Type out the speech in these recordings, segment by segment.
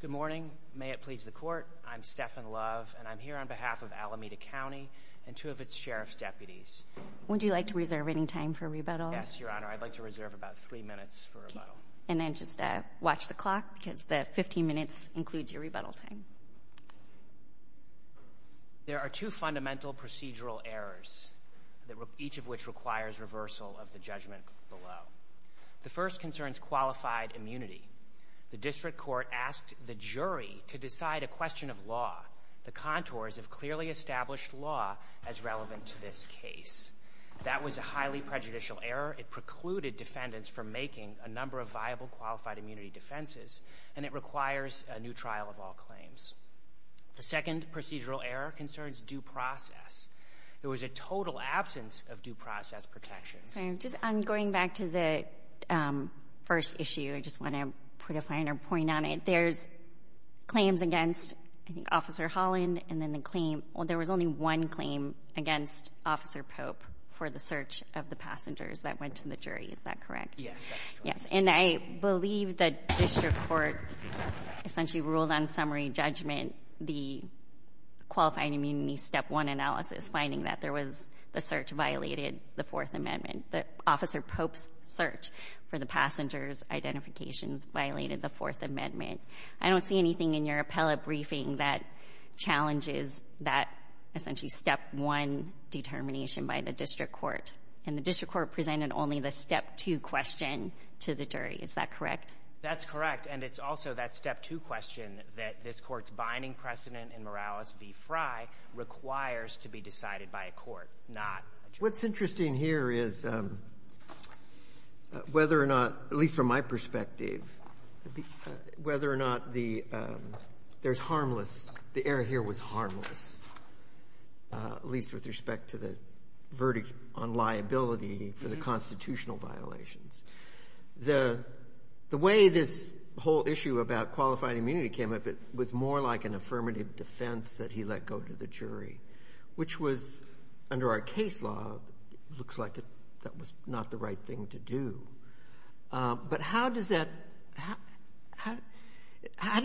Good morning. May it please the court. I'm Stefan Love and I'm here on behalf of Alameda County and two of its Sheriff's deputies. Would you like to reserve any time for rebuttal? Yes, Your Honor. I'd like to reserve about three minutes for rebuttal. And then just watch the clock because the 15 minutes includes your rebuttal time. There are two fundamental procedural errors, each of which requires reversal of the judgment below. The first concerns qualified immunity. The district court asked the jury to decide a question of law. The contours have clearly established law as relevant to this case. That was a highly prejudicial error. It precluded defendants from making a number of viable qualified immunity defenses and it requires a new trial of all claims. The second procedural error concerns due process. There was a total absence of due process protections. I'm going back to the first issue. I just want to put a finer point on it. There's claims against I think Officer Holland and then the claim, well, there was only one claim against Officer Pope for the search of the passengers that went to the jury. Is that correct? Yes, that's correct. Yes. And I believe that district court essentially ruled on summary judgment the qualified immunity step one analysis, finding that there was the search violated the Fourth Amendment, that Officer Pope's search for the passengers' identifications violated the Fourth Amendment. I don't see anything in your appellate briefing that challenges that essentially step one determination by the district court. And the district court presented only the step two question to the jury. Is that correct? That's correct. And it's also that step two question that this court's binding precedent in Morales v. Frye requires to be decided by a court, not a jury. What's interesting here is whether or not, at least from my perspective, whether or not the there's harmless, the error here was harmless, at least with respect to the verdict on liability for the constitutional violations. The way this whole issue about qualified immunity came up, it was more like an affirmative defense that he let go to the jury, which was under our case law, looks like that was not the right thing to do. But how did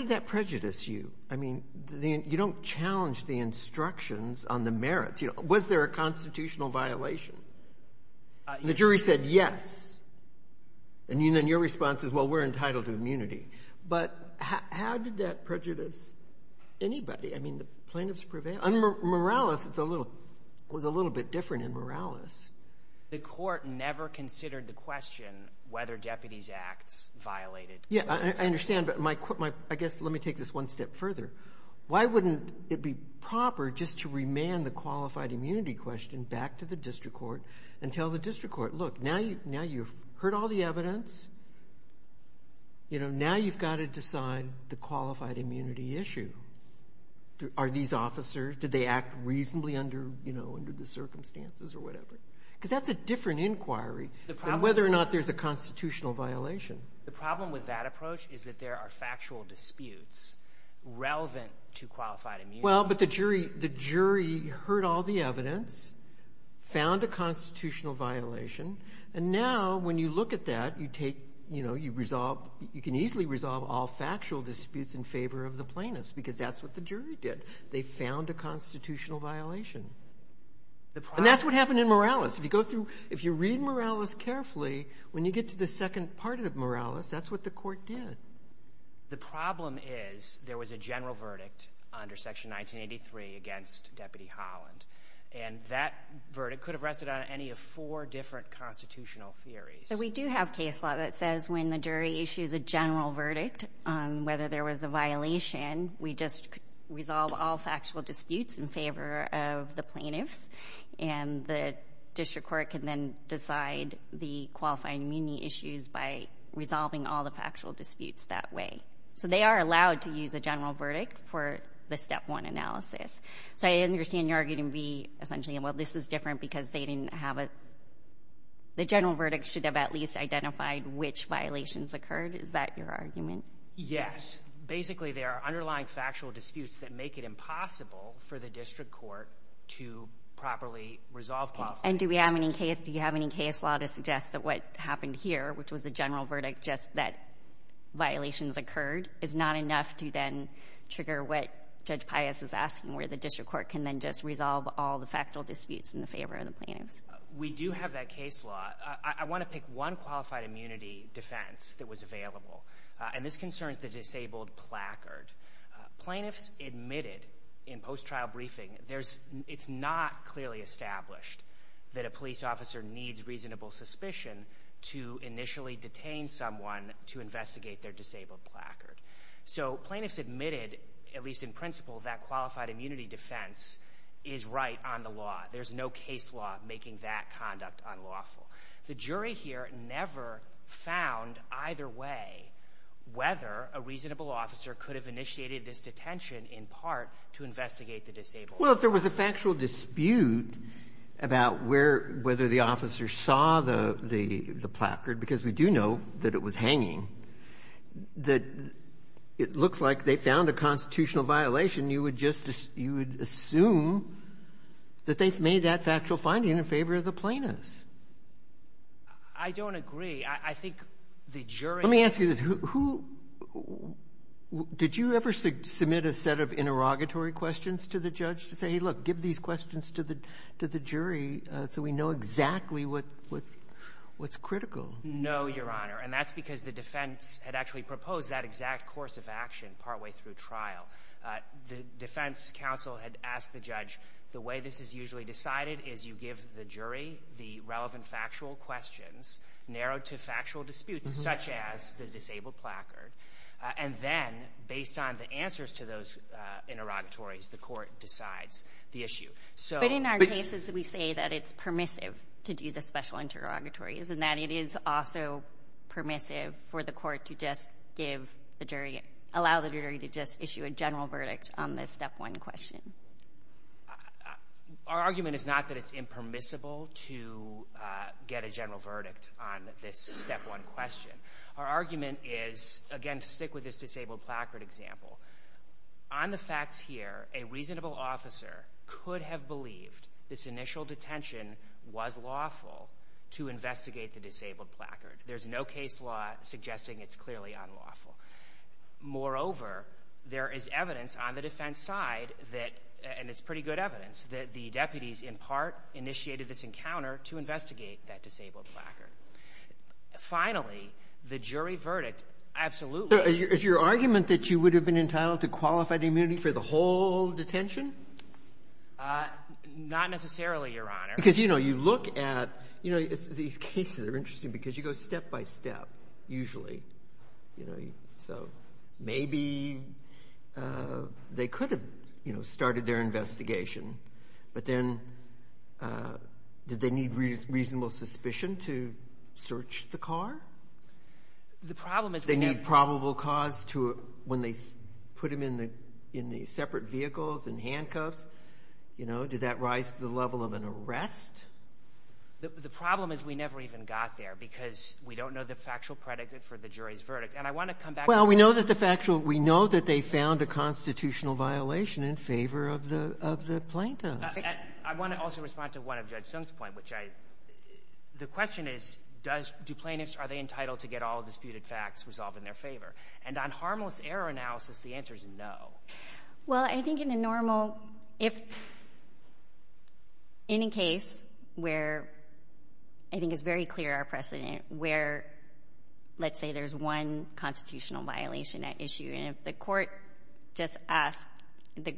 that prejudice you? I mean, you don't challenge the instructions on the merits. Was there a constitutional violation? The jury said yes. And then your response is, well, we're entitled to immunity. But how did that prejudice anybody? I mean, the plaintiff's prevailed. Morales was a little bit different in Morales. The court never considered the question whether deputies' acts violated. Yeah, I understand. But I guess let me take this one step further. Why wouldn't it be proper just to remand the qualified immunity question back to the district court and tell the district court, look, now you've heard all the evidence. Now you've got to decide the qualified immunity issue. Are these officers, did they act reasonably under the circumstances or whatever? Because that's a different inquiry than whether or not there's a constitutional violation. The problem with that approach is that there are factual disputes relevant to qualified immunity. Well, but the jury heard all the evidence, found a constitutional violation. And now when you look at that, you can easily resolve all factual disputes in favor of the plaintiffs because that's what the jury did. They found a constitutional violation. And that's what happened in Morales. If you read Morales carefully, when you get to the second part of Morales, that's what the court did. The problem is there was a general verdict under Section 1983 against Deputy Holland. And that verdict could have rested on any of four different constitutional theories. We do have case law that says when the jury issues a general verdict, whether there was a violation, we just resolve all factual disputes in favor of the plaintiffs. And the district court can then decide the qualified immunity issues by resolving all the factual disputes that way. So they are allowed to use a general verdict for the step one analysis. So I understand you're arguing v. essentially, well, this is different because they didn't have a, the general verdict should have at least identified which violations occurred. Is that your argument? Yes. Basically, there are underlying factual disputes that make it impossible for the district court to properly resolve qualified immunity. And do we have any case, do you have any case law to suggest that what happened here, which was the general verdict, just that violations occurred, is not enough to then trigger what Judge Pius is asking, where the district court can then just resolve all the factual disputes in favor of the plaintiffs? We do have that case law. I want to pick one qualified immunity defense that was available. And this concerns the disabled placard. Plaintiffs admitted in post-trial briefing, there's, it's not clearly established that a police officer needs reasonable suspicion to initially detain someone to investigate their disabled placard. So plaintiffs admitted, at least in principle, that qualified immunity defense is right on the law. There's no case law making that conduct unlawful. The jury here never found either way whether a reasonable officer could have initiated this detention in part to investigate the disabled placard. Well, if there was a factual dispute about where, whether the officer saw the, the placard, because we do know that it was hanging, that it looks like they found a constitutional violation, you would just, you would assume that they've made that factual finding in favor of the plaintiffs. I don't agree. I think the jury Let me ask you this. Who, did you ever submit a set of interrogatory questions to the judge to say, hey, look, give these questions to the, to the jury so we know exactly what, what, what's critical? No, Your Honor. And that's because the defense had actually proposed that exact course of action partway through trial. The defense counsel had asked the judge, the way this is usually decided is you give the jury the relevant factual questions narrowed to factual disputes such as the disabled placard. And then based on the answers to those interrogatories, the court decides the issue. So But in our cases, we say that it's permissive to do the special interrogatories and that it is also permissive for the court to just give the jury, allow the jury to just issue a general verdict on this step one question. Our argument is not that it's impermissible to get a general verdict on this step one question. Our argument is, again, stick with this disabled placard example. On the facts here, a reasonable officer could have believed this initial detention was lawful to investigate the disabled placard. There's no case law suggesting it's clearly unlawful. Moreover, there is evidence on the defense side that, and it's pretty good evidence, that the deputies in part initiated this encounter to investigate that disabled placard. Finally, the jury verdict absolutely So is your argument that you would have been entitled to qualified immunity for the whole detention? Not necessarily, Your Honor. Because, you know, you look at, you know, these cases are interesting because you go step by step, usually. You know, so maybe they could have, you know, started their investigation, but then did they need reasonable suspicion to search the car? The problem is Did they need probable cause to, when they put him in the separate vehicles and handcuffs, you know, did that rise to the level of an arrest? The problem is we never even got there because we don't know the factual predicate for the jury's verdict. And I want to come back to Well, we know that the factual, we know that they found a constitutional violation in favor of the plaintiffs. I want to also respond to one of Judge Sung's point, which I, the question is, do plaintiffs, are they entitled to get all disputed facts resolved in their favor? And on harmless error analysis, the answer is no. Well, I think in a normal, if, in a case where, I think it's very clear our precedent, where, let's say there's one constitutional violation at issue, and if the court just asks, the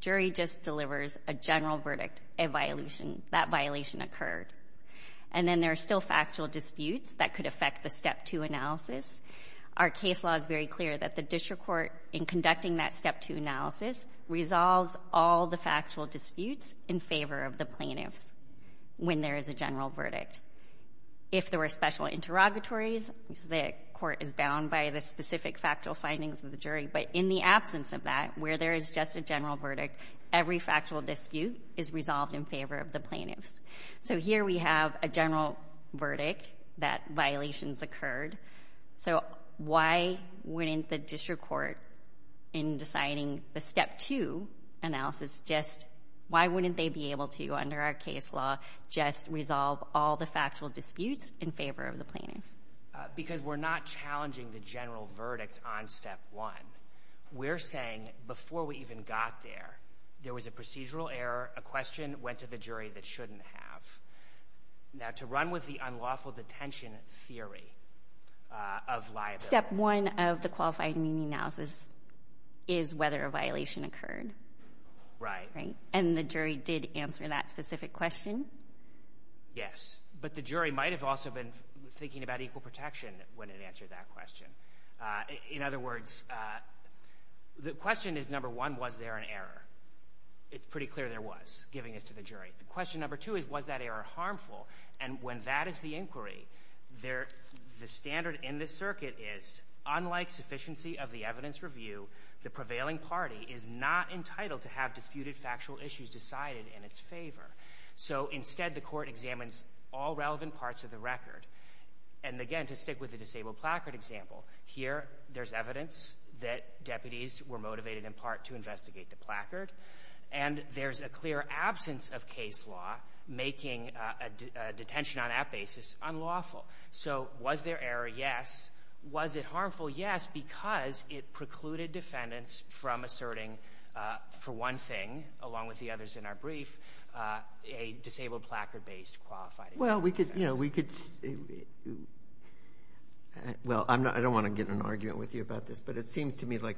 jury just delivers a general verdict, a violation, that violation occurred, and then there's still factual disputes that could affect the step two analysis, our case law is very clear that the district court, in conducting that step two analysis, resolves all the factual disputes in favor of the plaintiffs when there is a general verdict. If there were special interrogatories, the court is bound by the specific factual findings of the jury, but in the absence of that, where there is just a general verdict, every factual dispute is resolved in favor of the plaintiffs. So here we have a general verdict that violations occurred, so why wouldn't the district court in deciding the step two analysis just, why wouldn't they be able to, under our case law, just resolve all the factual disputes in favor of the plaintiffs? Because we're not challenging the general verdict on step one. We're saying, before we even got there, there was a procedural error, a question went to the jury that shouldn't have. Now, to run with the unlawful detention theory of liability. Step one of the qualified meaning analysis is whether a violation occurred, and the jury did answer that specific question? Yes, but the jury might have also been thinking about equal protection when it answered that question. One, was there an error? It's pretty clear there was, giving this to the jury. Question number two is, was that error harmful? And when that is the inquiry, the standard in this circuit is, unlike sufficiency of the evidence review, the prevailing party is not entitled to have disputed factual issues decided in its favor. So instead, the court examines all relevant parts of the record. And again, to stick with the disabled placard example, here there's evidence that deputies were motivated in part to investigate the placard, and there's a clear absence of case law making a detention on that basis unlawful. So was there error? Yes. Was it harmful? Yes, because it precluded defendants from asserting, for one thing, along with the others in our brief, a disabled placard-based qualified inquiry. Well, I don't want to get in an argument with you about this, but it seems to me like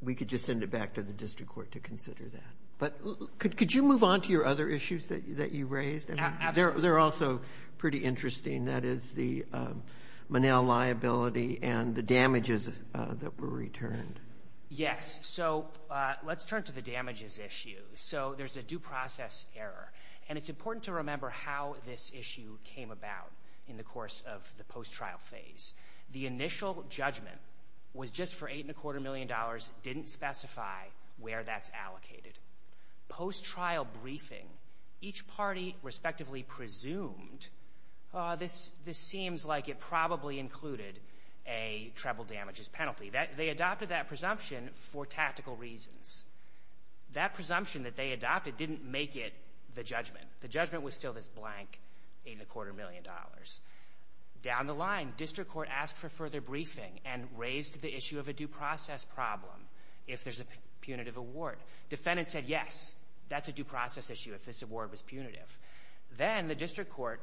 we could just send it back to the district court to consider that. But could you move on to your other issues that you raised? They're also pretty interesting. That is the Monell liability and the damages that were returned. Yes. So let's turn to the damages issue. So there's a due process error. And it's important to remember how this issue came about in the course of the post-trial phase. The initial judgment was just for $8.25 million, didn't specify where that's allocated. Post-trial briefing, each party respectively presumed, oh, this seems like it probably included a treble damages penalty. They adopted that presumption for tactical reasons. That presumption that they adopted didn't make it the judgment. The judgment was still this blank $8.25 million. Down the line, district court asked for further briefing and raised the issue of a due process problem if there's a punitive award. Defendants said, yes, that's a due process issue if this award was punitive. Then the district court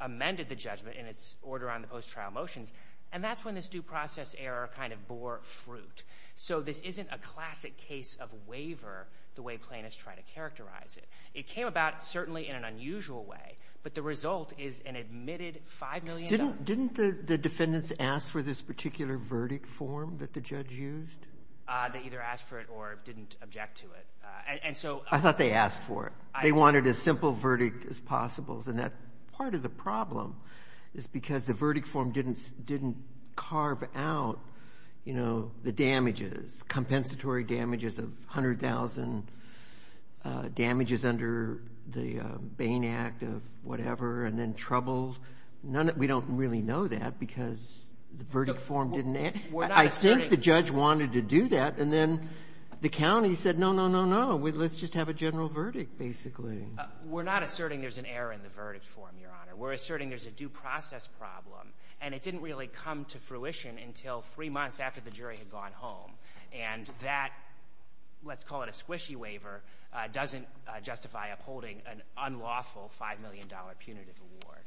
amended the judgment in its order on the post-trial motions, and that's when this due process error kind of bore fruit. So this isn't a complaint. It's trying to characterize it. It came about certainly in an unusual way, but the result is an admitted $5 million. Didn't the defendants ask for this particular verdict form that the judge used? They either asked for it or didn't object to it. I thought they asked for it. They wanted a simple verdict as possible. And that part of the problem is because the verdict form didn't carve out the damages, compensatory damages of $100,000, damages under the Bain Act of whatever, and then trouble. We don't really know that because the verdict form didn't add. I think the judge wanted to do that, and then the county said, no, no, no, no. Let's just have a general verdict, basically. We're not asserting there's an error in the verdict form, Your Honor. We're asserting there's a due process problem, and it didn't really come to fruition until three months after the jury had gone home. And that, let's call it a squishy waiver, doesn't justify upholding an unlawful $5 million punitive award.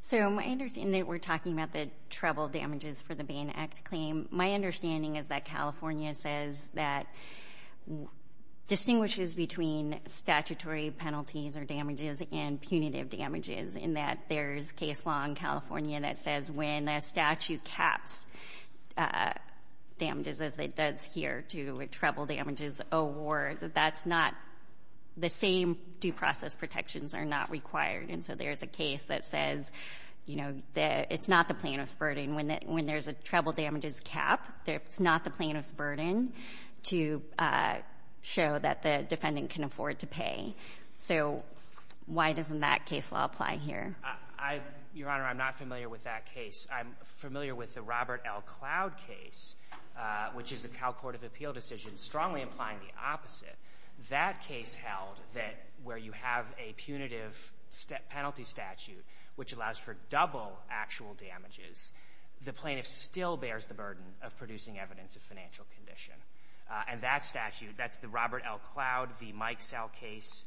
So my understanding that we're talking about the trouble damages for the Bain Act claim, my understanding is that California says that distinguishes between statutory penalties or damages and punitive damages in that there's case law in California that says when a statute caps damages, as it does here, to a trouble damages award, that that's not the same due process protections are not required. And so there's a case that says, you know, it's not the plaintiff's burden. When there's a trouble damages cap, it's not the plaintiff's burden to show that the defendant can afford to pay. So why doesn't that case law apply here? Your Honor, I'm not familiar with that case. I'm familiar with the Robert L. Cloud case, which is the Cal Court of Appeal decision strongly implying the opposite. That case held that where you have a punitive penalty statute, which allows for double actual damages, the plaintiff still bears the burden of producing evidence of financial condition. And that statute, that's the Robert L. Cloud v. Mike Sell case.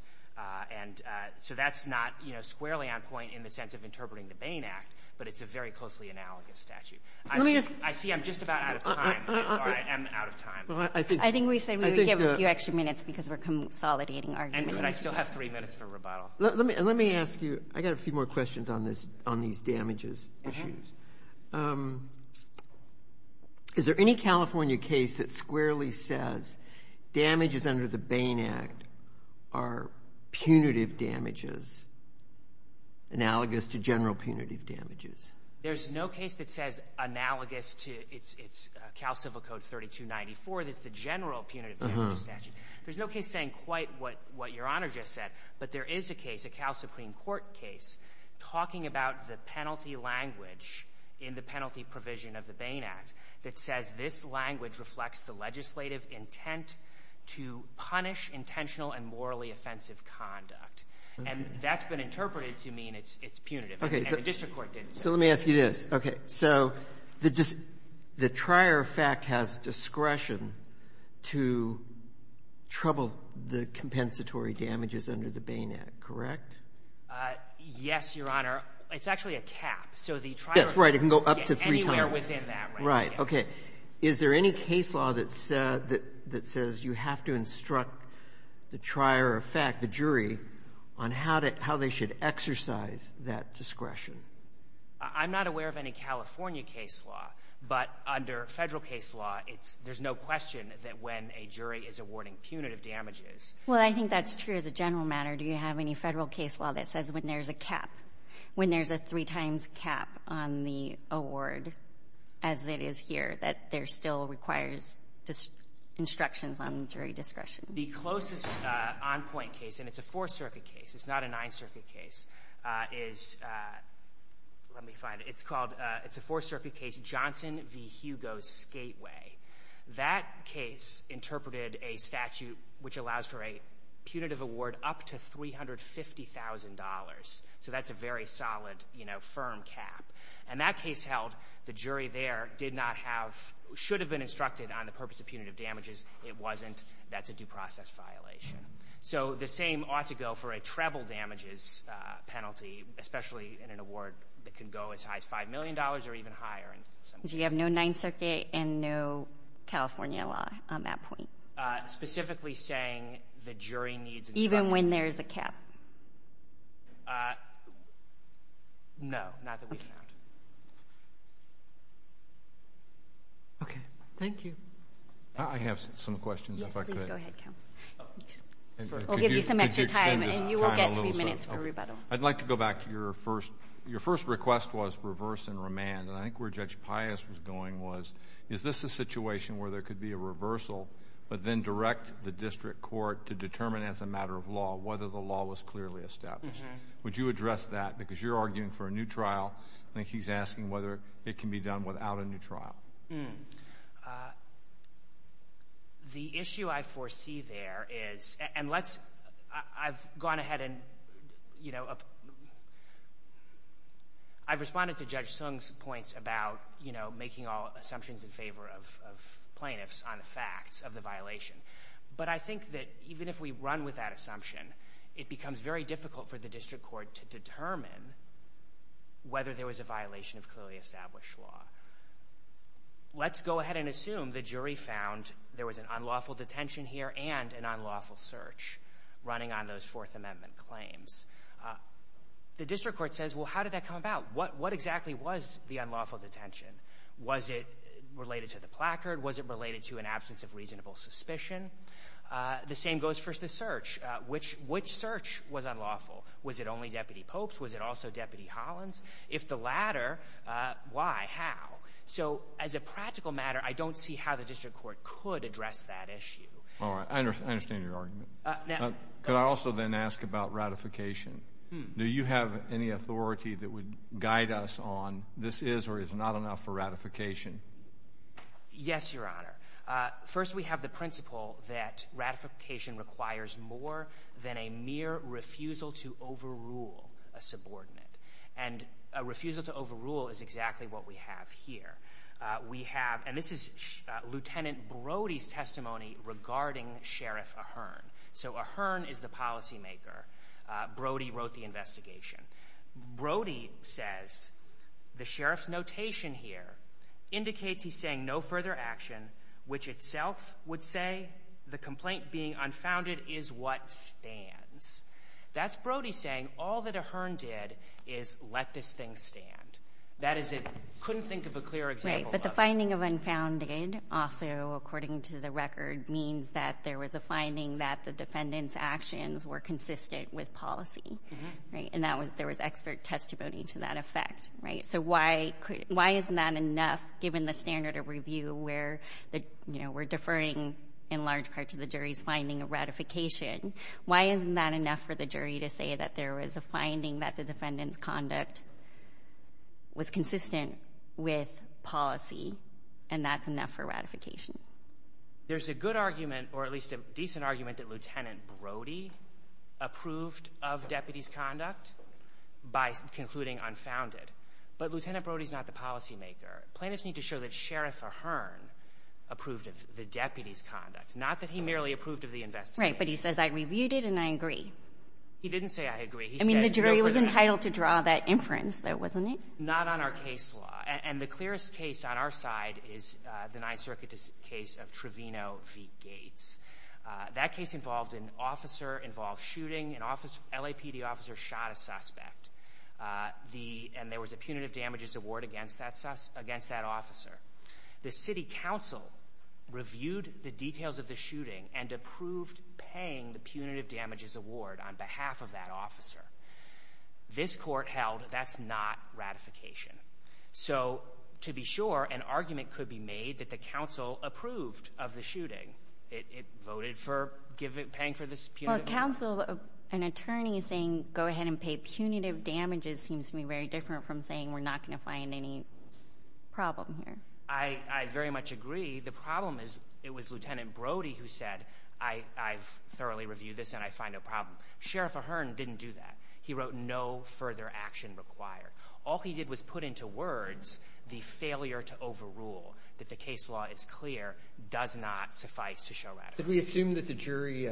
And so that's not, you know, squarely a standpoint in the sense of interpreting the Bain Act, but it's a very closely analogous statute. I see I'm just about out of time. I am out of time. I think we should give a few extra minutes because we're consolidating arguments. And I still have three minutes for rebuttal. Let me ask you, I got a few more questions on these damages issues. Is there any California case that squarely says damages under the Bain Act are punitive damages? Analogous to general punitive damages. There's no case that says analogous to, it's Cal Civil Code 3294, that's the general punitive damages statute. There's no case saying quite what Your Honor just said, but there is a case, a Cal Supreme Court case, talking about the penalty language in the penalty provision of the Bain Act that says this language reflects the legislative intent to punish intentional and morally offensive conduct. And that's been interpreted to mean it's punitive. And the district court didn't say that. So let me ask you this. Okay. So the Trier effect has discretion to trouble the compensatory damages under the Bain Act, correct? Yes, Your Honor. It's actually a cap. So the Trier effect can get anywhere within that Is there any case law that says you have to instruct the Trier effect, the jury, on how they should exercise that discretion? I'm not aware of any California case law, but under Federal case law, there's no question that when a jury is awarding punitive damages. Well, I think that's true as a general matter. Do you have any Federal case law that says when there's a cap, when there's a three-times cap on the award, as it is here, that there still requires instructions on jury discretion? The closest on-point case, and it's a Fourth Circuit case, it's not a Ninth Circuit case, is, let me find it, it's called, it's a Fourth Circuit case, Johnson v. Hugo's Skateway. That case interpreted a statute which allows for a punitive award up to $350,000. So that's a very solid, you know, firm cap. And that case held, the jury there did not have, should have been instructed on the purpose of punitive damages. It wasn't. That's a due process violation. So the same ought to go for a treble damages penalty, especially in an award that can go as high as $5 million or even higher in some cases. So you have no Ninth Circuit and no California law on that point? Specifically saying the jury needs instruction. Even when there's a cap? No, not that we found. Okay. Thank you. I have some questions, if I could. Yes, please go ahead, Cal. We'll give you some extra time, and you will get three minutes for rebuttal. I'd like to go back to your first, your first request was reverse and remand. And I think where Judge Pius was going was, is this a situation where there could be a reversal, but then direct the district court to determine as a matter of law whether the law was clearly established. Would you address that? Because you're arguing for a new trial. I think he's asking whether it can be done without a new trial. The issue I foresee there is, and let's, I've gone ahead and, you know, I've responded to the violation. But I think that even if we run with that assumption, it becomes very difficult for the district court to determine whether there was a violation of clearly established law. Let's go ahead and assume the jury found there was an unlawful detention here and an unlawful search running on those Fourth Amendment claims. The district court says, well, how did that come about? What exactly was the unlawful detention? Was it related to the placard? Was it related to an absence of reasonable suspicion? The same goes for the search. Which search was unlawful? Was it only Deputy Pope's? Was it also Deputy Holland's? If the latter, why? How? So as a practical matter, I don't see how the district court could address that issue. All right. I understand your argument. Could I also then ask about ratification? Do you have any authority that would guide us on this is or is not enough for ratification? Yes, Your Honor. First, we have the principle that ratification requires more than a mere refusal to overrule a subordinate. And a refusal to overrule is exactly what we have here. We have, and this is Lieutenant Brody's testimony regarding Sheriff Ahearn. So Ahearn is the policymaker. Brody wrote the investigation. Brody says the sheriff's notation here indicates he's saying no further action, which itself would say the complaint being unfounded is what stands. That's Brody saying all that Ahearn did is let this thing stand. That is it couldn't think of a clear example. Right. But the finding of unfounded also, according to the record, means that there was a finding that the defendant's actions were consistent with policy, right? And that there was expert testimony to that effect, right? So why isn't that enough given the standard of review where we're deferring in large part to the jury's finding of ratification? Why isn't that enough for the jury to say that there was a finding that the defendant's conduct was consistent with policy and that's enough for ratification? There's a good argument, or at least a decent argument, that Lieutenant Brody approved of by concluding unfounded. But Lieutenant Brody's not the policymaker. Plaintiffs need to show that Sheriff Ahearn approved of the deputy's conduct, not that he merely approved of the investigation. Right. But he says, I reviewed it and I agree. He didn't say, I agree. He said, no further action. I mean, the jury was entitled to draw that inference, though, wasn't it? Not on our case law. And the clearest case on our side is the Ninth Circuit case of Trevino v. Gates. That case involved an officer, involved shooting. An LAPD officer shot a suspect. And there was a punitive damages award against that officer. The city council reviewed the details of the shooting and approved paying the punitive damages award on behalf of that officer. This court held that's not ratification. So to be sure, an argument could be made that the council approved of the shooting. It voted for paying for this punitive damages award. Well, a council, an attorney saying, go ahead and pay punitive damages seems to be very different from saying we're not going to find any problem here. I very much agree. The problem is it was Lieutenant Brody who said, I've thoroughly reviewed this and I find a problem. Sheriff Ahearn didn't do that. He wrote, no further action required. All he did was put into words the failure to overrule, that the case law is clear, does not suffice to show ratification. Did we assume that the jury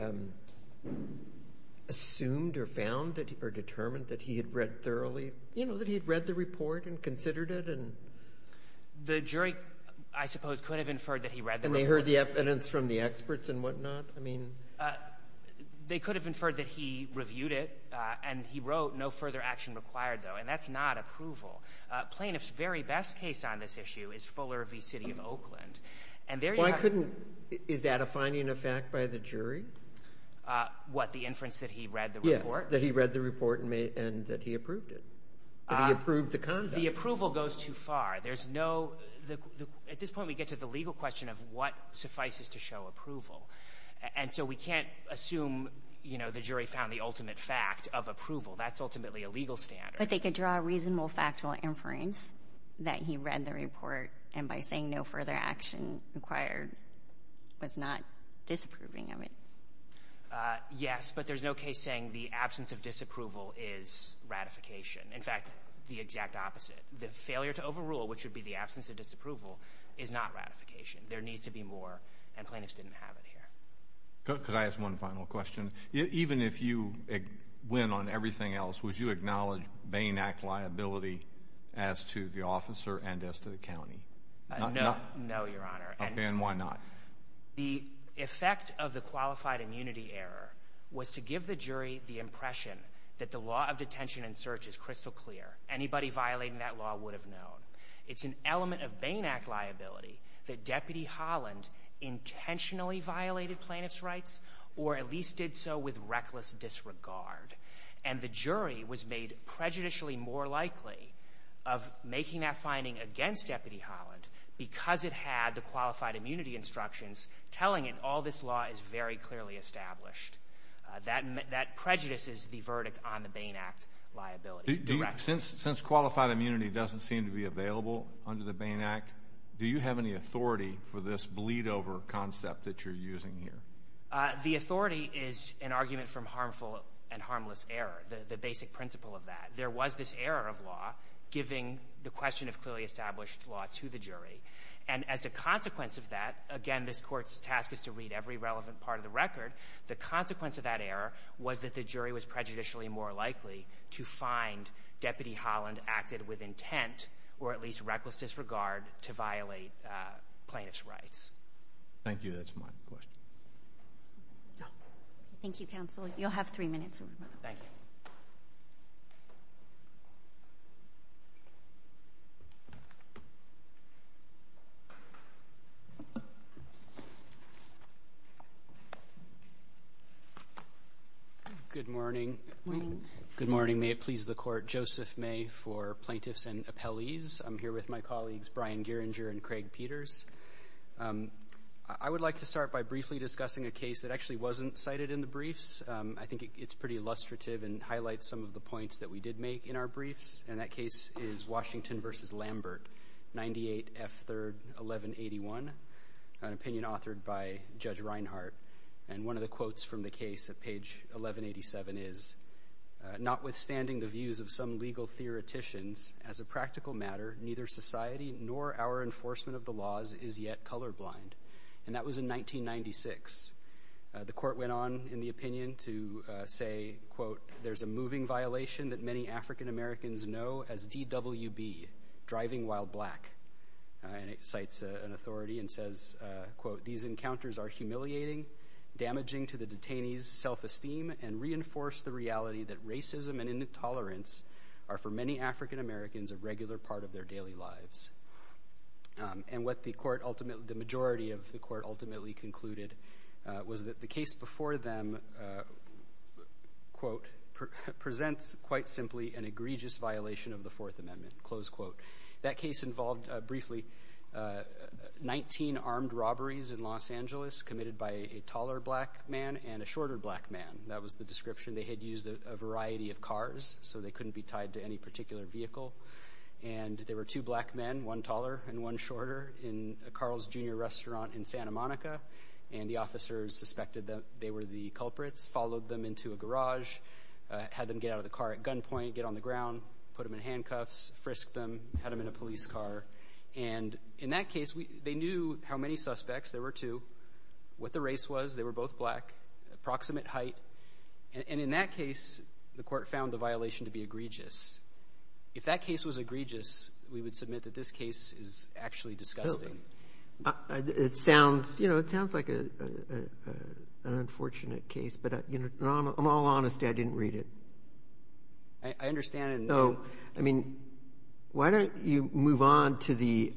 assumed or found or determined that he had read thoroughly, that he had read the report and considered it? The jury, I suppose, could have inferred that he read the report. And they heard the evidence from the experts and whatnot? They could have inferred that he reviewed it and he wrote, no further action required though. And that's not approval. Plaintiff's very best case on this issue is Fuller v. City of Oakland. Why couldn't, is that a finding of fact by the jury? What, the inference that he read the report? Yes, that he read the report and that he approved it. That he approved the conduct. The approval goes too far. There's no, at this point we get to the legal question of what suffices to show approval. And so we can't assume the jury found the ultimate fact of approval. That's ultimately a legal standard. But they could draw a reasonable factual inference that he read the report and by saying, no further action required, was not disapproving of it. Yes, but there's no case saying the absence of disapproval is ratification. In fact, the exact opposite. The failure to overrule, which would be the absence of disapproval, is not ratification. There needs to be more and plaintiffs didn't have it here. Could I ask one final question? Even if you win on everything else, would you acknowledge Bain Act liability as to the officer and as to the county? No, Your Honor. Okay, and why not? The effect of the qualified immunity error was to give the jury the impression that the law of detention and search is crystal clear. Anybody violating that law would have known. It's an element of Bain Act liability that Deputy Holland intentionally violated plaintiffs' rights or at least did so with reckless disregard. And the jury was made prejudicially more likely of making that finding against Deputy Holland because it had the qualified immunity instructions telling it all this law is very clearly established. That prejudices the verdict on the Bain Act liability. Since qualified immunity doesn't seem to be available under the Bain Act, do you have any authority for this bleed-over concept that you're using here? The authority is an argument from harmful and harmless error, the basic principle of that. There was this error of law giving the question of clearly established law to the jury. And as a consequence of that, again, this Court's task is to read every relevant part of the record. The consequence of that error was that the jury was prejudicially more likely to find Deputy Holland acted with intent or at least reckless disregard to violate plaintiffs' rights. Thank you. That's my question. Thank you, Counsel. You'll have three minutes. Thank you. Good morning. Good morning. Good morning. May it please the Court. Joseph May for Plaintiffs and Appellees. I'm here with my colleagues Brian Gieringer and Craig Peters. I would like to start by briefly discussing a case that actually wasn't cited in the briefs. I think it's pretty illustrative and highlights some of the points that we did make in our briefs. And that case is Washington v. Lambert, 98 F. 3rd, 1181, an opinion authored by Judge Reinhart. And one of the quotes from the case at page 1187 is, notwithstanding the views of some legal theoreticians, as a practical matter, neither society nor our enforcement of the laws is yet colorblind. And that was in 1996. The Court went on in the opinion to say, quote, there's a moving violation that many African Americans know as DWB, driving while black. And it cites an authority and says, quote, these encounters are humiliating, damaging to the detainee's self-esteem and reinforce the reality that racism and intolerance are for many African Americans a regular part of their daily lives. And what the majority of the Court ultimately concluded was that the case before them, quote, presents quite simply an egregious violation of the Fourth Amendment, close quote. That case involved, briefly, 19 armed robberies in Los Angeles committed by a taller black man and a shorter black man. That was the description. They had used a variety of cars, so they couldn't be tied to any particular vehicle. And there were two black men, one taller and one shorter, in a Carl's Jr. restaurant in Santa Monica. And the officers suspected that they were the culprits, followed them into a garage, had them get out of the car at gunpoint, get on the ground, put them in handcuffs, frisked them, had them in a police car. And in that case, they knew how many suspects, there were two, what the race was, they were both black, approximate height. And in that case, the Court found the violation to be egregious. If that case was egregious, we would submit that this case is actually disgusting. It sounds, you know, it sounds like an unfortunate case, but I'm all honest, I didn't read it. I understand and know. I mean, why don't you move on to the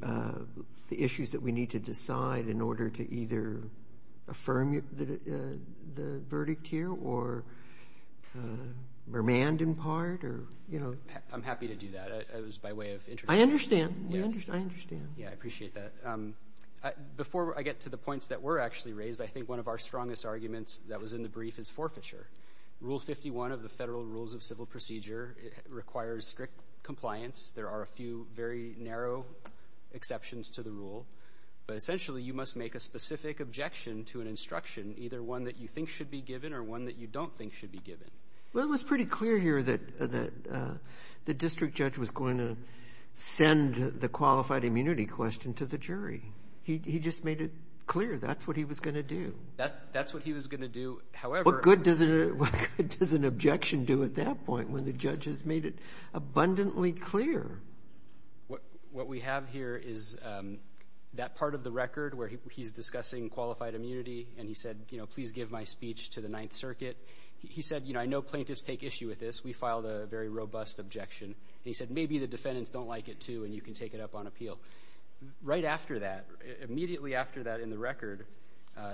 issues that we need to decide in order to either affirm the verdict here or remand in part or, you know. I'm happy to do that. It was by way of interpretation. I understand. I understand. Yeah, I appreciate that. Before I get to the points that were actually raised, I think one of our strongest arguments that was in the brief is forfeiture. Rule 51 of the Federal Rules of Civil Procedure requires strict compliance. There are a few very narrow exceptions to the rule, but essentially, you must make a specific objection to an instruction, either one that you think should be given or one that you don't think should be given. Well, it was pretty clear here that the district judge was going to send the qualified immunity question to the jury. He just made it clear that's what he was going to do. That's what he was going to do. However... What good does an objection do at that point when the judge has made it abundantly clear? What we have here is that part of the record where he's discussing qualified immunity and he said, you know, please give my speech to the Ninth Circuit. He said, you know, I know plaintiffs take issue with this. We filed a very robust objection. He said, maybe the defendants don't like it, too, and you can take it up on appeal. Right after that, immediately after that in the record,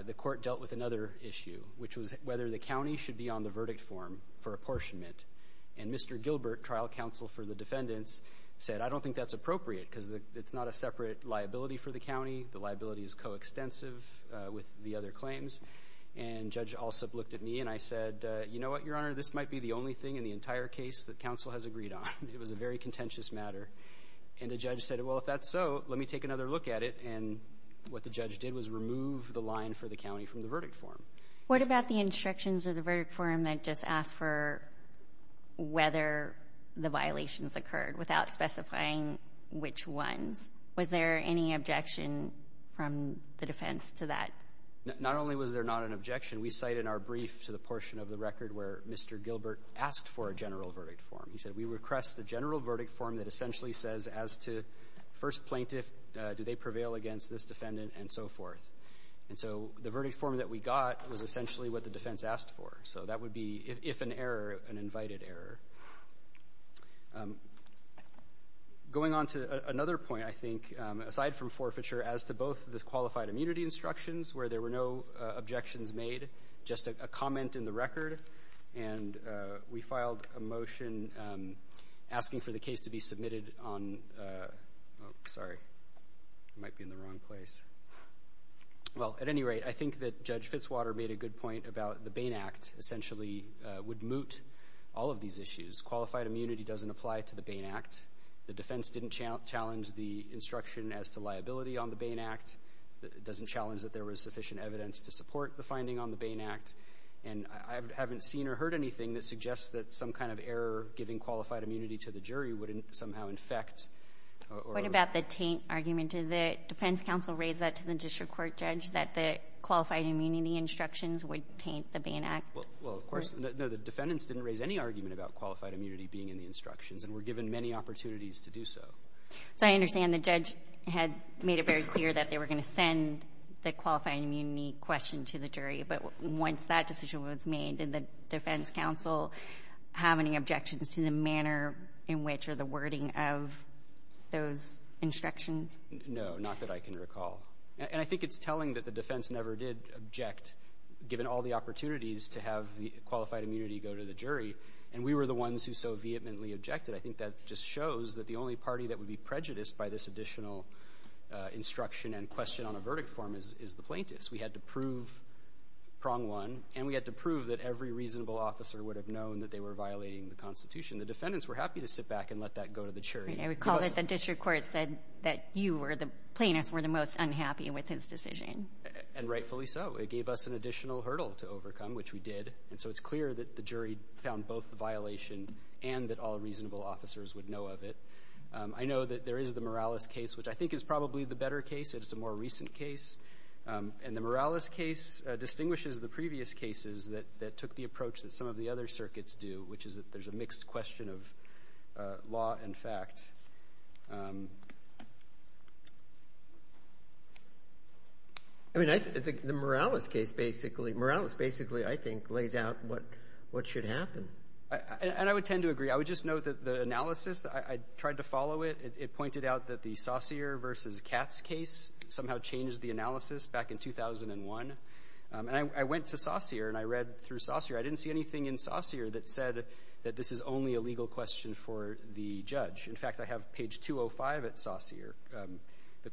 the court dealt with another issue, which was whether the county should be on the verdict form for apportionment. And Mr. Gilbert, trial counsel for the defendants, said, I don't think that's appropriate because it's not a separate liability for the county. The liability is coextensive with the other claims. And Judge Alsup looked at me and I said, you know what, Your Honor, this might be the only thing in the entire case that counsel has agreed on. It was a very contentious matter. And the judge said, well, if that's so, let me take another look at it. And what the judge did was remove the line for the county from the verdict form. What about the instructions of the verdict form that just asked for whether the violations occurred without specifying which ones? Was there any objection from the defense to that? Not only was there not an objection, we cite in our brief to the portion of the record where Mr. Gilbert asked for a general verdict form. He said, we request the general verdict form that essentially says as to first plaintiff, do they prevail against this defendant and so forth. And so the verdict form that we got was essentially what the defense asked for. So that would be, if an error, an invited error. Going on to another point, I think, aside from forfeiture, as to both the qualified immunity instructions where there were no objections made, just a comment in the record. And we filed a motion asking for the case to be submitted on, sorry, I might be in the wrong place. Well, at any rate, I think that Judge Fitzwater made a good point about the Bain Act essentially would moot all of these issues. Qualified immunity doesn't apply to the Bain Act. The defense didn't challenge the instruction as to liability on the Bain Act. It doesn't challenge that there was sufficient evidence to support the finding on the Bain Act. And I haven't seen or heard anything that suggests that some kind of error giving qualified immunity to the jury would somehow infect or... What about the taint argument? Did the defense counsel raise that to the district court judge that the qualified immunity instructions would taint the Bain Act? Well, of course, no. The defendants didn't raise any argument about qualified immunity being in the instructions and were given many opportunities to do so. So I understand the judge had made it very clear that they were going to send the qualified immunity question to the jury. But once that message was made, did the defense counsel have any objections to the manner in which or the wording of those instructions? No, not that I can recall. And I think it's telling that the defense never did object, given all the opportunities to have the qualified immunity go to the jury. And we were the ones who so vehemently objected. I think that just shows that the only party that would be prejudiced by this additional instruction and question on a verdict form is the plaintiffs. We had to prove prong one, and we had to prove that every reasonable officer would have known that they were violating the Constitution. The defendants were happy to sit back and let that go to the jury. I recall that the district court said that you or the plaintiffs were the most unhappy with his decision. And rightfully so. It gave us an additional hurdle to overcome, which we did. And so it's clear that the jury found both the violation and that all reasonable officers would know of it. I know that there is the Morales case, which I think is probably the better case. It's a more recent case. And the Morales case distinguishes the previous cases that took the approach that some of the other circuits do, which is that there's a mixed question of law and fact. I mean, the Morales case basically, Morales basically, I think, lays out what should happen. And I would tend to agree. I would just note that the analysis, I tried to follow it. It was Saussure versus Katz case. Somehow changed the analysis back in 2001. And I went to Saussure and I read through Saussure. I didn't see anything in Saussure that said that this is only a legal question for the judge. In fact, I have page 205 at Saussure.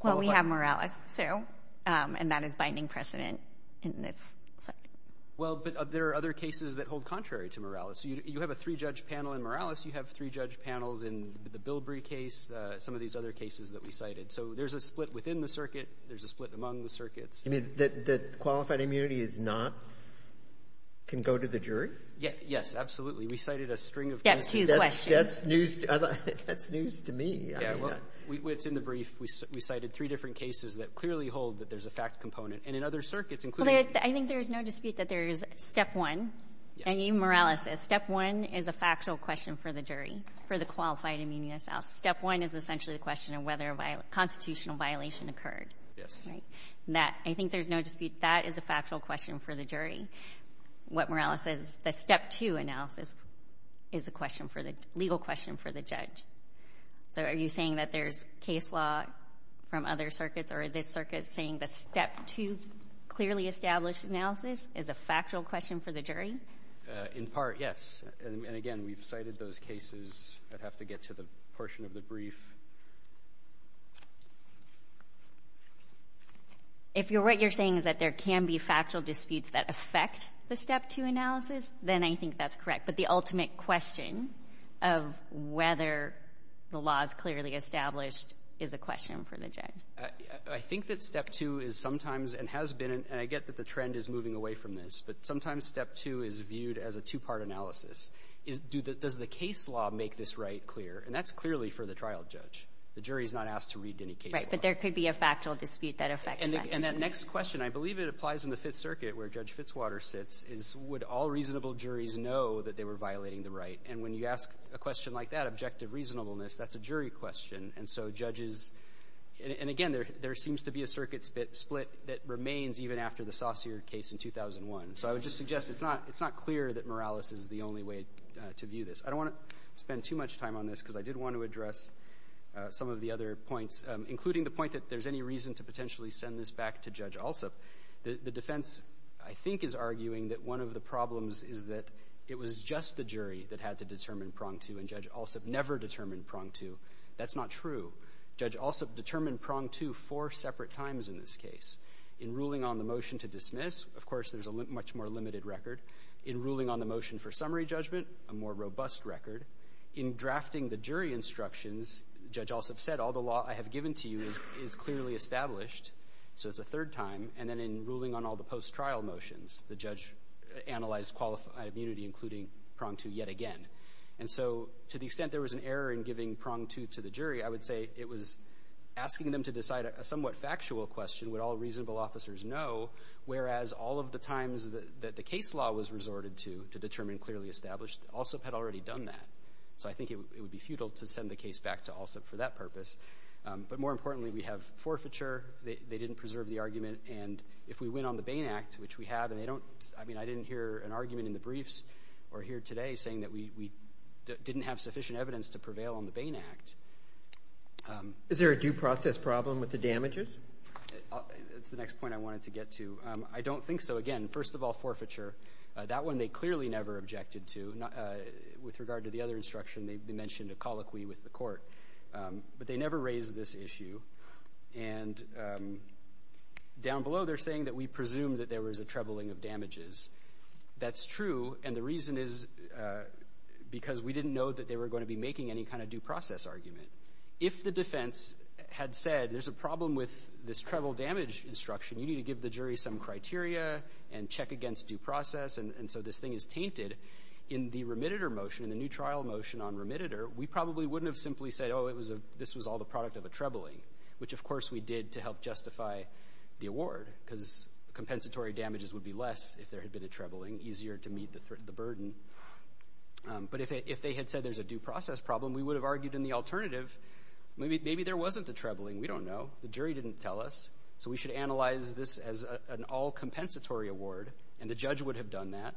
Well, we have Morales, too. And that is binding precedent in this circuit. Well, but there are other cases that hold contrary to Morales. You have a three-judge panel in Morales. You have three-judge panels in the Bilbrey case, some of these other cases that we cited. So there's a split within the circuit. There's a split among the circuits. You mean that qualified immunity is not – can go to the jury? Yes. Absolutely. We cited a string of cases. That's news to me. Yeah. Well, it's in the brief. We cited three different cases that clearly hold that there's a fact component. And in other circuits, including – Well, I think there is no dispute that there is step one. And you, Morales, said step one is a factual question for the jury, for the qualified immunity itself. Step one is essentially the question of whether a constitutional violation occurred. Yes. Right? And that – I think there's no dispute that is a factual question for the jury. What Morales says is that step two analysis is a question for the – legal question for the judge. So are you saying that there's case law from other circuits, or is this circuit saying that step two, clearly established analysis, is a factual question for the jury? In part, yes. And again, we've cited those cases. I'd have to get to the portion of the brief. If you're – what you're saying is that there can be factual disputes that affect the step two analysis, then I think that's correct. But the ultimate question of whether the law is clearly established is a question for the judge. I think that step two is sometimes – and has been – and I get that the trend is moving away from this. But sometimes step two is viewed as a two-part analysis. Is – does the case law make this right clear? And that's clearly for the trial judge. The jury is not asked to read any case law. Right. But there could be a factual dispute that affects that. And that next question, I believe it applies in the Fifth Circuit, where Judge Fitzwater sits, is would all reasonable juries know that they were violating the right? And when you ask a question like that, objective reasonableness, that's a jury question. And so judges – and again, there seems to be a circuit split that remains even after the Saussure case in 2001. So I would just suggest it's not – it's not clear that Morales is the only way to go. I don't want to spend too much time on this, because I did want to address some of the other points, including the point that there's any reason to potentially send this back to Judge Alsup. The defense, I think, is arguing that one of the problems is that it was just the jury that had to determine prong two, and Judge Alsup never determined prong two. That's not true. Judge Alsup determined prong two four separate times in this case. In ruling on the motion to dismiss, of course, there's a much more limited record. In ruling on the motion for summary judgment, a more robust record. In drafting the jury instructions, Judge Alsup said, all the law I have given to you is clearly established, so it's a third time. And then in ruling on all the post-trial motions, the judge analyzed qualified immunity, including prong two yet again. And so to the extent there was an error in giving prong two to the jury, I would say it was asking them to decide a somewhat factual question, would all reasonable officers know, whereas all of the times that the case law was resorted to to determine clearly established, Alsup had already done that. So I think it would be futile to send the case back to Alsup for that purpose. But more importantly, we have forfeiture. They didn't preserve the argument. And if we win on the Bain Act, which we have, and they don't, I mean, I didn't hear an argument in the briefs or here today saying that we didn't have sufficient evidence to prevail on the Bain Act. Is there a due process problem with the damages? That's the next point I wanted to get to. I don't think so. Again, first of all, forfeiture. That one they clearly never objected to. With regard to the other instruction, they mentioned a colloquy with the court. But they never raised this issue. And down below, they're saying that we presume that there was a trebling of damages. That's true. And the reason is because we didn't know that they were going to be making any kind of due process argument. If the defense had said, there's a problem with this treble damage instruction, you need to give the jury some criteria and check against due process. And so this thing is tainted. In the remitter motion, in the new trial motion on remitter, we probably wouldn't have simply said, oh, it was a, this was all the product of a trebling, which of course we did to help justify the award because compensatory damages would be less if there had been a trebling, easier to meet the burden. But if they had said there's a due process problem, we would have argued in the alternative, maybe there wasn't a trebling. We don't know. The jury didn't tell us. So we should analyze this as an all compensatory award. And the judge would have done that.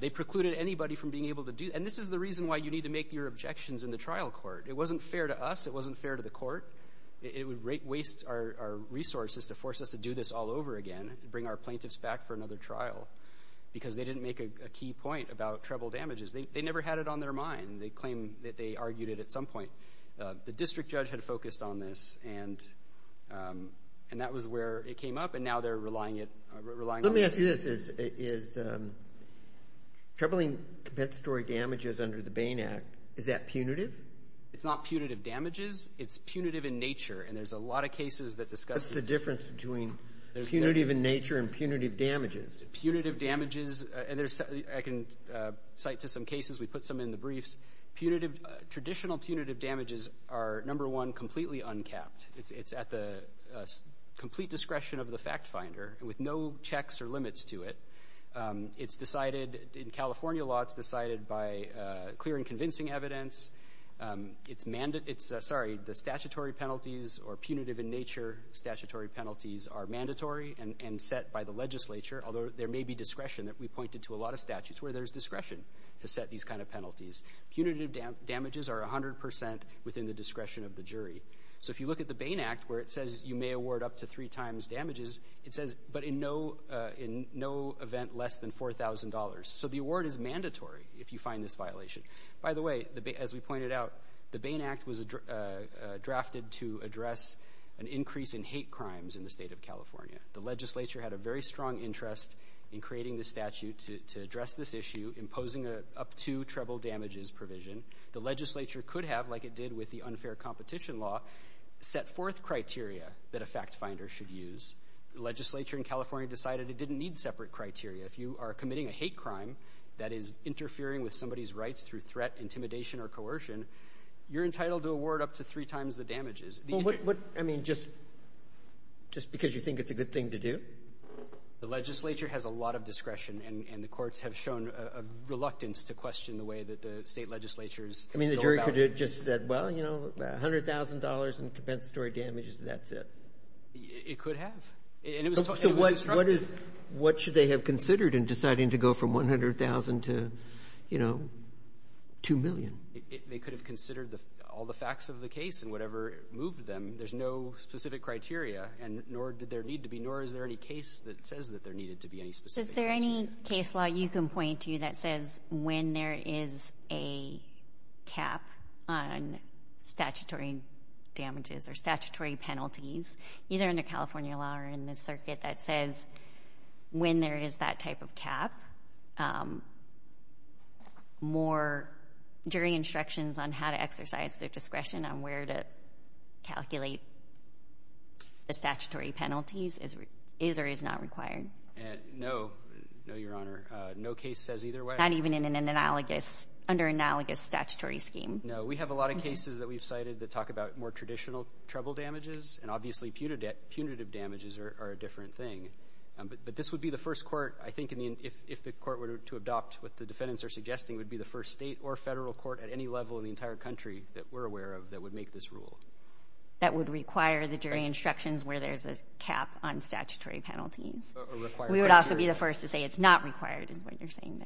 They precluded anybody from being able to do, and this is the reason why you need to make your objections in the trial court. It wasn't fair to us. It wasn't fair to the court. It would waste our resources to force us to do this all over again, bring our plaintiffs back for another trial because they didn't make a key point about treble damages. They never had it on their mind. They claim that they argued it at some point. The district judge had focused on this, and that was where it came up, and now they're relying on this. Let me ask you this. Is trebling compensatory damages under the Bain Act, is that punitive? It's not punitive damages. It's punitive in nature, and there's a lot of cases that discuss it. What's the difference between punitive in nature and punitive damages? Punitive damages, and I can cite to some cases. We put some in the briefs. Traditional punitive damages are, number one, completely uncapped. It's at the complete discretion of the fact finder with no checks or limits to it. It's decided in California lots, decided by clear and convincing evidence. The statutory penalties or punitive in nature statutory penalties are mandatory and set by the legislature, although there may be discretion that we pointed to a lot of statutes where there's discretion to set these kind of penalties. Punitive damages are 100% within the discretion of the jury. If you look at the Bain Act where it says you may award up to three times damages, it says, but in no event less than $4,000. The award is mandatory if you find this violation. By the way, as we pointed out, the Bain Act was drafted to address an increase in hate crimes in the state of California. The legislature had a very strong interest in creating the statute to address this issue, imposing up to treble damages provision. The legislature could have, like it did with the unfair competition law, set forth criteria that a fact finder should use. The legislature in California decided it didn't need separate criteria. If you are committing a hate crime that is interfering with somebody's rights through threat, intimidation, or coercion, you're entitled to award up to three times the damages. Well, what, I mean, just because you think it's a good thing to do? The legislature has a lot of discretion, and the courts have shown a reluctance to question the way that the state legislatures go about it. I mean, the jury could have just said, well, you know, $100,000 in compensatory damages, that's it. It could have. And it was instructed. So what is, what should they have considered in deciding to go from $100,000 to, you know, $2 million? They could have considered all the facts of the case and whatever moved them. There's no specific criteria, and nor did there need to be, nor is there any case that says that there needed to be any specific criteria. Is there any case law you can point to that says when there is a cap on statutory damages or statutory penalties, either in the California law or in the circuit, that says when there is that type of cap, more jury instructions on how to exercise their discretion on where to calculate the statutory penalties is or is not required? No. No, Your Honor. No case says either way. Not even in an analogous, under analogous statutory scheme? No. We have a lot of cases that we've cited that talk about more traditional trouble damages, and obviously punitive damages are a different thing. But this would be the first court, I think, if the court were to adopt what the defendants are suggesting, would be the first state or federal court at any level in the entire country that we're aware of that would make this rule. That would require the jury instructions where there's a cap on statutory penalties. A required cap, too. We would also be the first to say it's not required is what you're saying,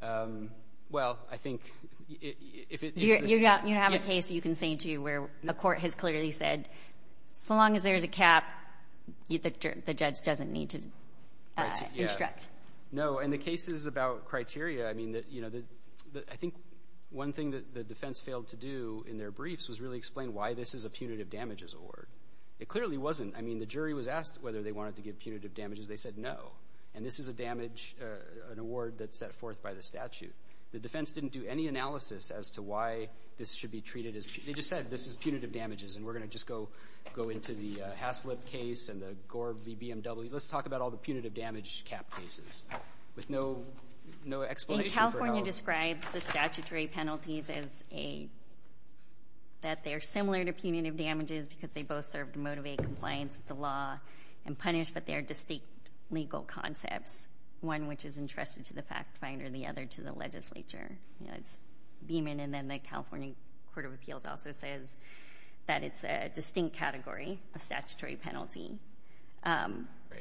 though. Well, I think if it's... You have a case you can say, too, where a court has clearly said, so long as there's a cap, the judge doesn't need to instruct. No. In the cases about criteria, I think one thing that the defense failed to do in their briefs was really explain why this is a punitive damages award. It clearly wasn't. I mean, the jury was asked whether they wanted to give punitive damages. They said no. And this is a damage, an award that's set forth by the statute. The defense didn't do any analysis as to why this should be treated as... They just said this is punitive damages, and we're going to just go into the Haslip case and the Gore v. BMW. Let's talk about all the punitive damage cap cases with no explanation for how... I think California describes the statutory penalties as a... That they're similar to punitive damages because they both serve to motivate compliance with the law and punish, but they're distinct legal concepts, one which is entrusted to the fact finder, the other to the legislature. It's Beeman, and then the California Court of Appeals also says that it's a distinct category of statutory penalty. Right.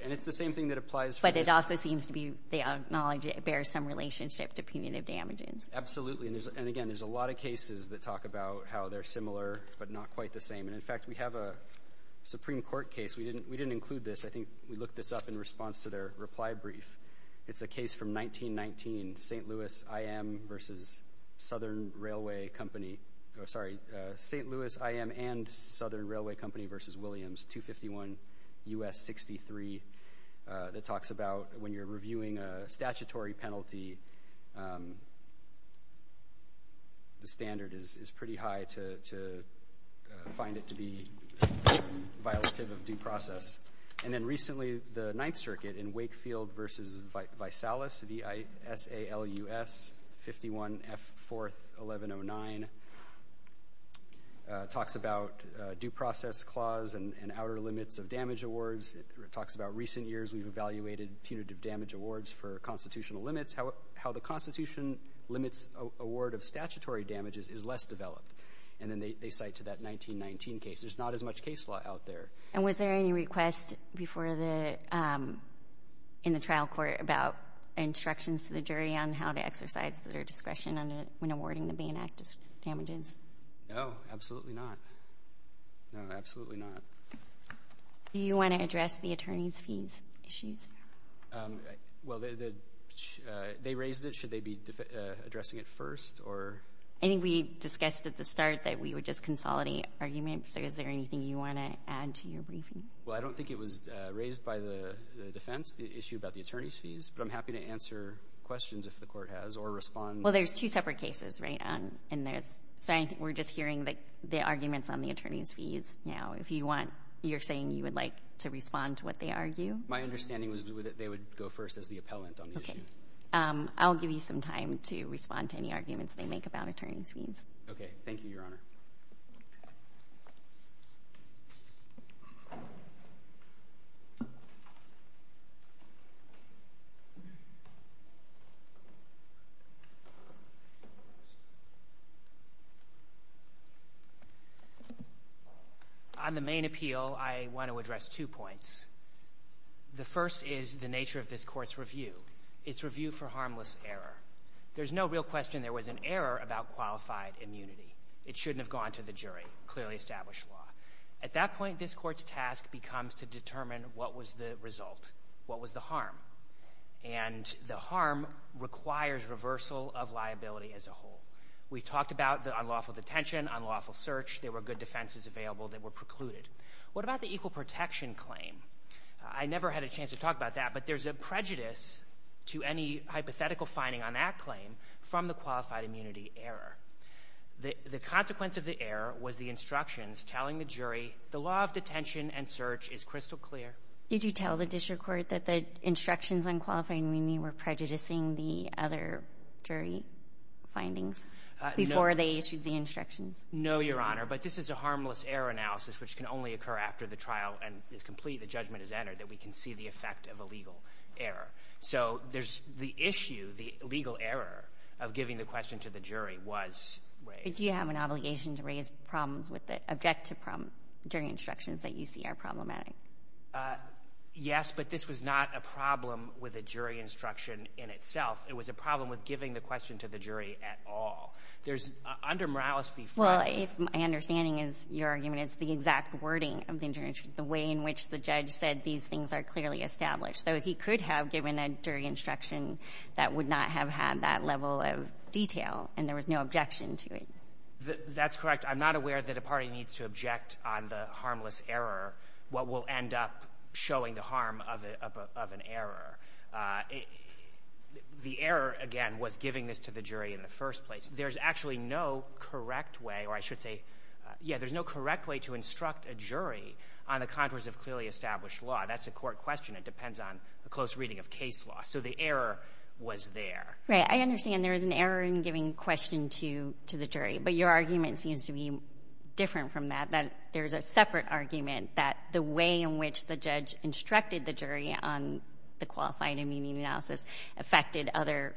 And it's the same thing that applies for... But it also seems to be... They acknowledge it bears some relationship to punitive damages. Absolutely. And again, there's a lot of cases that talk about how they're similar, but not quite the same. And in fact, we have a Supreme Court case. We didn't include this. I think we looked this up in response to their reply brief. It's a case from 1919, St. Louis I.M. versus Southern Railway Company... Oh, sorry. St. Louis I.M. and Southern Railway Company versus Williams, 251 U.S. 63. That talks about when you're reviewing a statutory penalty, the standard is pretty high to find it to be violative of due process. And then recently, the Ninth Circuit in Wakefield versus Vaisalas, V-I-S-A-L-U-S, 51 F. 4th. 1109, talks about due process clause and outer limits of damage awards. It talks about recent years we've evaluated punitive damage awards for constitutional limits, how the constitution limits award of statutory damages is less developed. And then they cite to that 1919 case. There's not as much case law out there. And was there any request in the trial court about instructions to the jury on how to exercise their discretion when awarding the Bain Act damages? No, absolutely not. No, absolutely not. Do you want to address the attorney's fees issues? Well, they raised it. Should they be addressing it first? I think we discussed at the start that we would just consolidate arguments. Is there anything you want to add to your briefing? Well, I don't think it was raised by the defense, the issue about the attorney's fees. But I'm happy to answer questions if the court has or respond. Well, there's two separate cases, right? And there's, so I think we're just hearing the arguments on the attorney's fees now. If you want, you're saying you would like to respond to what they argue? My understanding was that they would go first as the appellant on the issue. Okay. I'll give you some time to respond to any arguments they make about attorney's fees. Okay. Thank you, Your Honor. On the main appeal, I want to address two points. The first is the nature of this court's review, its review for harmless error. There's no real question there was an error about qualified immunity. It shouldn't have gone to the jury, clearly established law. At that point, this court's task becomes to determine what was the result, what was the harm. And the harm requires reversal of liability as a whole. We talked about the unlawful detention, unlawful search. There were good defenses available that were precluded. What about the equal to any hypothetical finding on that claim from the qualified immunity error? The consequence of the error was the instructions telling the jury the law of detention and search is crystal clear. Did you tell the district court that the instructions on qualifying immunity were prejudicing the other jury findings before they issued the instructions? No, Your Honor, but this is a harmless error analysis, which can only occur after the trial and is complete, the judgment is entered, that we can see the effect of a legal error. So there's the issue, the legal error of giving the question to the jury was raised. But do you have an obligation to raise problems with the objective from jury instructions that you see are problematic? Yes, but this was not a problem with a jury instruction in itself. It was a problem with giving the question to the jury at all. There's, under Morales v. Friendly... Well, my understanding is your argument is the exact wording of the injunctions, the way in which the judge said these things are clearly established. So he could have given a jury instruction that would not have had that level of detail, and there was no objection to it. That's correct. I'm not aware that a party needs to object on the harmless error, what will end up showing the harm of an error. The error, again, was giving this to the jury in the first place. There's actually no correct way, or I should say, yeah, there's no correct way to instruct a jury on the contours of clearly established law. That's a court question. It depends on a close reading of case law. So the error was there. Right. I understand there is an error in giving question to the jury, but your argument seems to be different from that, that there's a separate argument that the way in which the judge instructed the jury on the qualified and meaning analysis affected other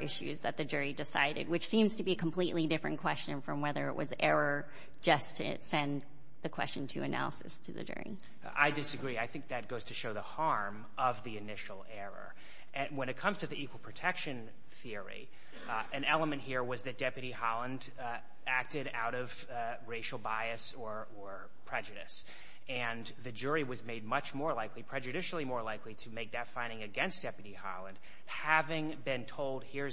issues that the jury decided, which seems to be a completely different question from whether it was error just to send the question to analysis to the jury. I disagree. I think that goes to show the harm of the initial error. When it comes to the equal protection theory, an element here was that Deputy Holland acted out of racial bias or prejudice, and the jury was made much more likely, prejudicially more likely, to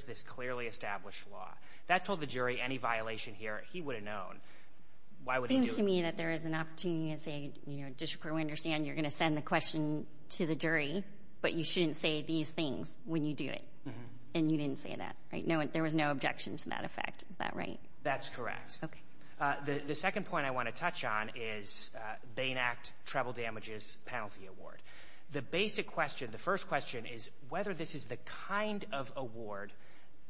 this clearly established law. That told the jury any violation here, he would have known. Why would he do it? It seems to me that there is an opportunity to say, you know, District Court, we understand you're going to send the question to the jury, but you shouldn't say these things when you do it. And you didn't say that, right? There was no objection to that effect. Is that right? That's correct. The second point I want to touch on is Bain Act, treble damages, penalty award. The basic question, the first question is whether this is the kind of award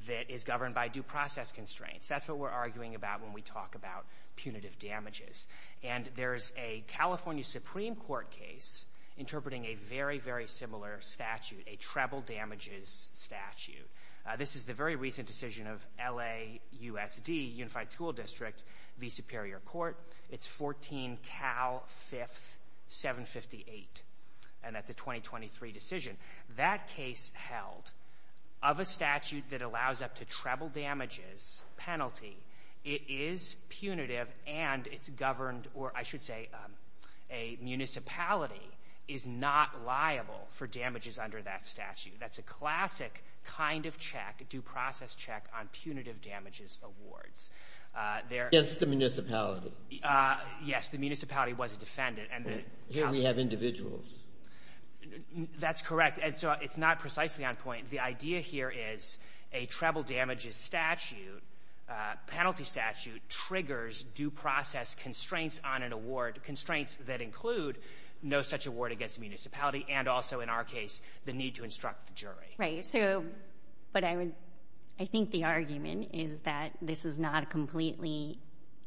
that is governed by due process constraints. That's what we're arguing about when we talk about punitive damages. And there's a California Supreme Court case interpreting a very, very similar statute, a treble damages statute. This is the very recent decision of LAUSD, Unified School District, the Superior Court. It's 14 Cal 5th, 758. And that's a 2023 decision. That case held of a statute that allows up to treble damages penalty, it is punitive and it's governed or I should say a municipality is not liable for damages under that statute. That's a classic kind of check, due process check on punitive damages awards. Against the municipality. Yes, the municipality was a defendant and the house... Here we have individuals. That's correct. And so it's not precisely on point. The idea here is a treble damages statute, penalty statute triggers due process constraints on an award, constraints that include no such award against municipality and also in our case, the need to instruct the jury. Right. So, but I would, I think the argument is that this is not a completely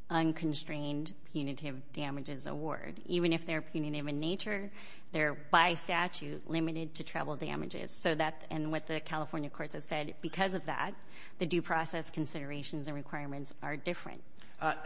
unconstrained punitive damages award. Even if they're punitive in nature, they're by statute limited to treble damages. So that, and what the California courts have said, because of that, the due process considerations and requirements are different.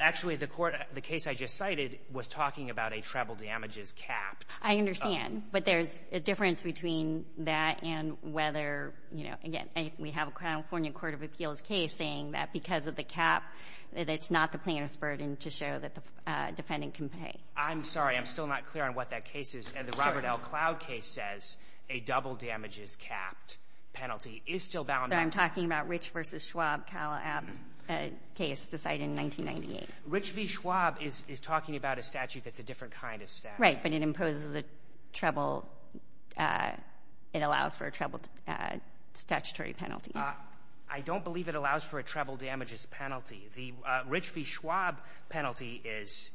Actually, the court, the case I just cited was talking about a treble damages capped. I understand, but there's a difference between that and whether, you know, again, we have a California court of appeals case saying that because of the cap, that it's not the plaintiff's burden to show that the defendant can pay. I'm sorry. I'm still not clear on what that case is. And the Robert L. Cloud case says a double damages capped penalty is still bound. I'm talking about Rich v. Schwab, Calab case decided in 1998. Rich v. Schwab is talking about a statute that's a different kind of statute. Right, but it imposes a treble, it allows for a treble statutory penalty. I don't believe it allows for a treble damages penalty. The Rich v. Schwab penalty is,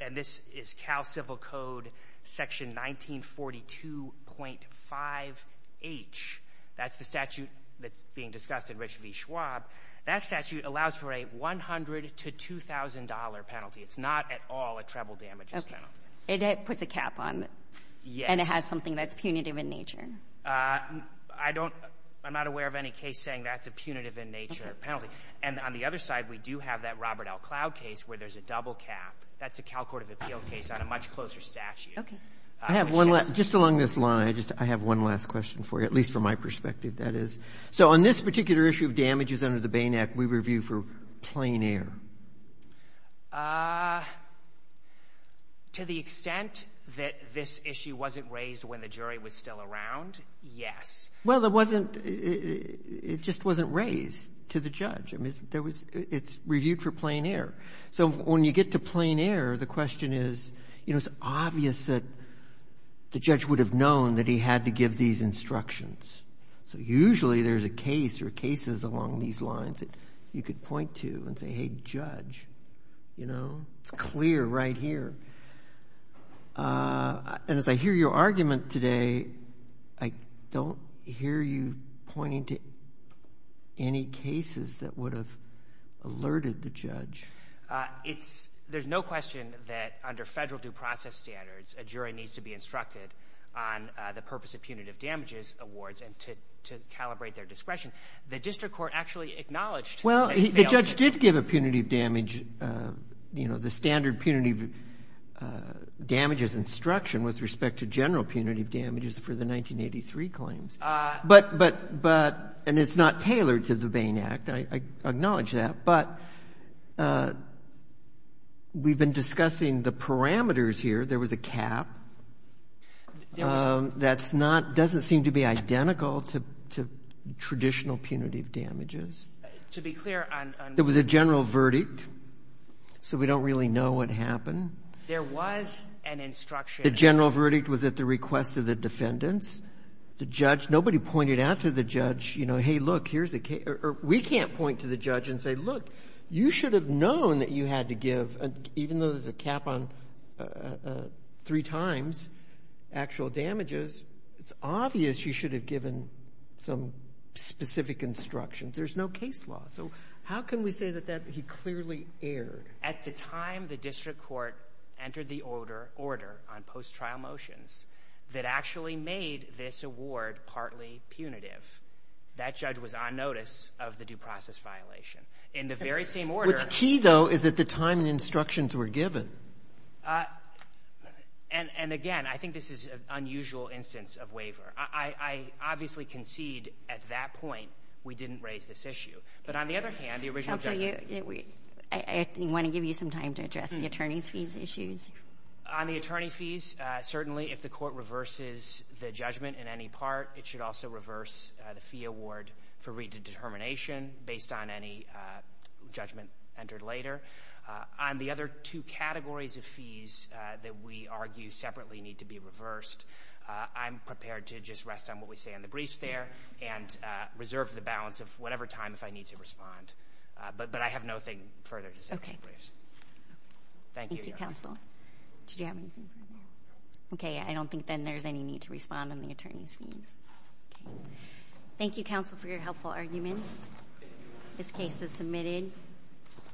and this is Cal Civil Code section 1942.5H. That's the statute that's being discussed in Rich v. Schwab. That statute allows for a $100,000 to $2,000 penalty. It's not at all a treble damages penalty. Okay. It puts a cap on it. Yes. And it has something that's punitive in nature. I don't — I'm not aware of any case saying that's a punitive in nature penalty. And on the other side, we do have that Robert L. Cloud case where there's a double cap. That's a Cal court of appeals case on a much closer statute. Okay. I have one last — just along this line, I just — I have one last question for you, at least from my perspective, that is. So on this particular issue of damages under the Bain Act, we review for plain air. To the extent that this issue wasn't raised when the jury was still around, yes. Well, it wasn't — it just wasn't raised to the judge. I mean, there was — it's reviewed for plain air. So when you get to plain air, the question is, you know, it's obvious that the judge would have known that he had to give these instructions. So usually there's a case or cases along these lines that you could point to and say, hey, judge, you know, it's clear right here. And as I hear your argument today, I don't hear you pointing to any cases that would have alerted the judge. It's — there's no question that under federal due process standards, a jury needs to be instructed on the purpose of punitive damages awards and to calibrate their discretion. The district court actually acknowledged that it failed to do that. The punitive damage — you know, the standard punitive damages instruction with respect to general punitive damages for the 1983 claims. But — but — and it's not tailored to the Bain Act. I acknowledge that. But we've been discussing the parameters here. There was a cap that's not — doesn't seem to be identical to traditional punitive damages. To be clear on — There was a general verdict. So we don't really know what happened. There was an instruction — The general verdict was at the request of the defendants. The judge — nobody pointed out to the judge, you know, hey, look, here's a — or we can't point to the judge and say, look, you should have known that you had to give — even though there's a cap on three times actual damages, it's obvious you should have given some specific instructions. There's no case law. So how can we say that he clearly erred? At the time the district court entered the order on post-trial motions that actually made this award partly punitive, that judge was on notice of the due process violation. In the very same order — What's key, though, is at the time the instructions were given. And again, I think this is an unusual instance of waiver. I obviously concede at that point we didn't raise this issue. But on the other hand, the original — Counsel, you — I want to give you some time to address the attorney's fees issues. On the attorney fees, certainly if the court reverses the judgment in any part, it should also reverse the fee award for redetermination based on any judgment entered later. On the other two categories of fees that we argue separately need to be reversed, I'm sure of the balance of whatever time if I need to respond. But I have nothing further to say to the briefs. Thank you, Counsel. Did you have anything further? Okay, I don't think then there's any need to respond on the attorney's fees. Thank you, Counsel, for your helpful arguments. This case is submitted.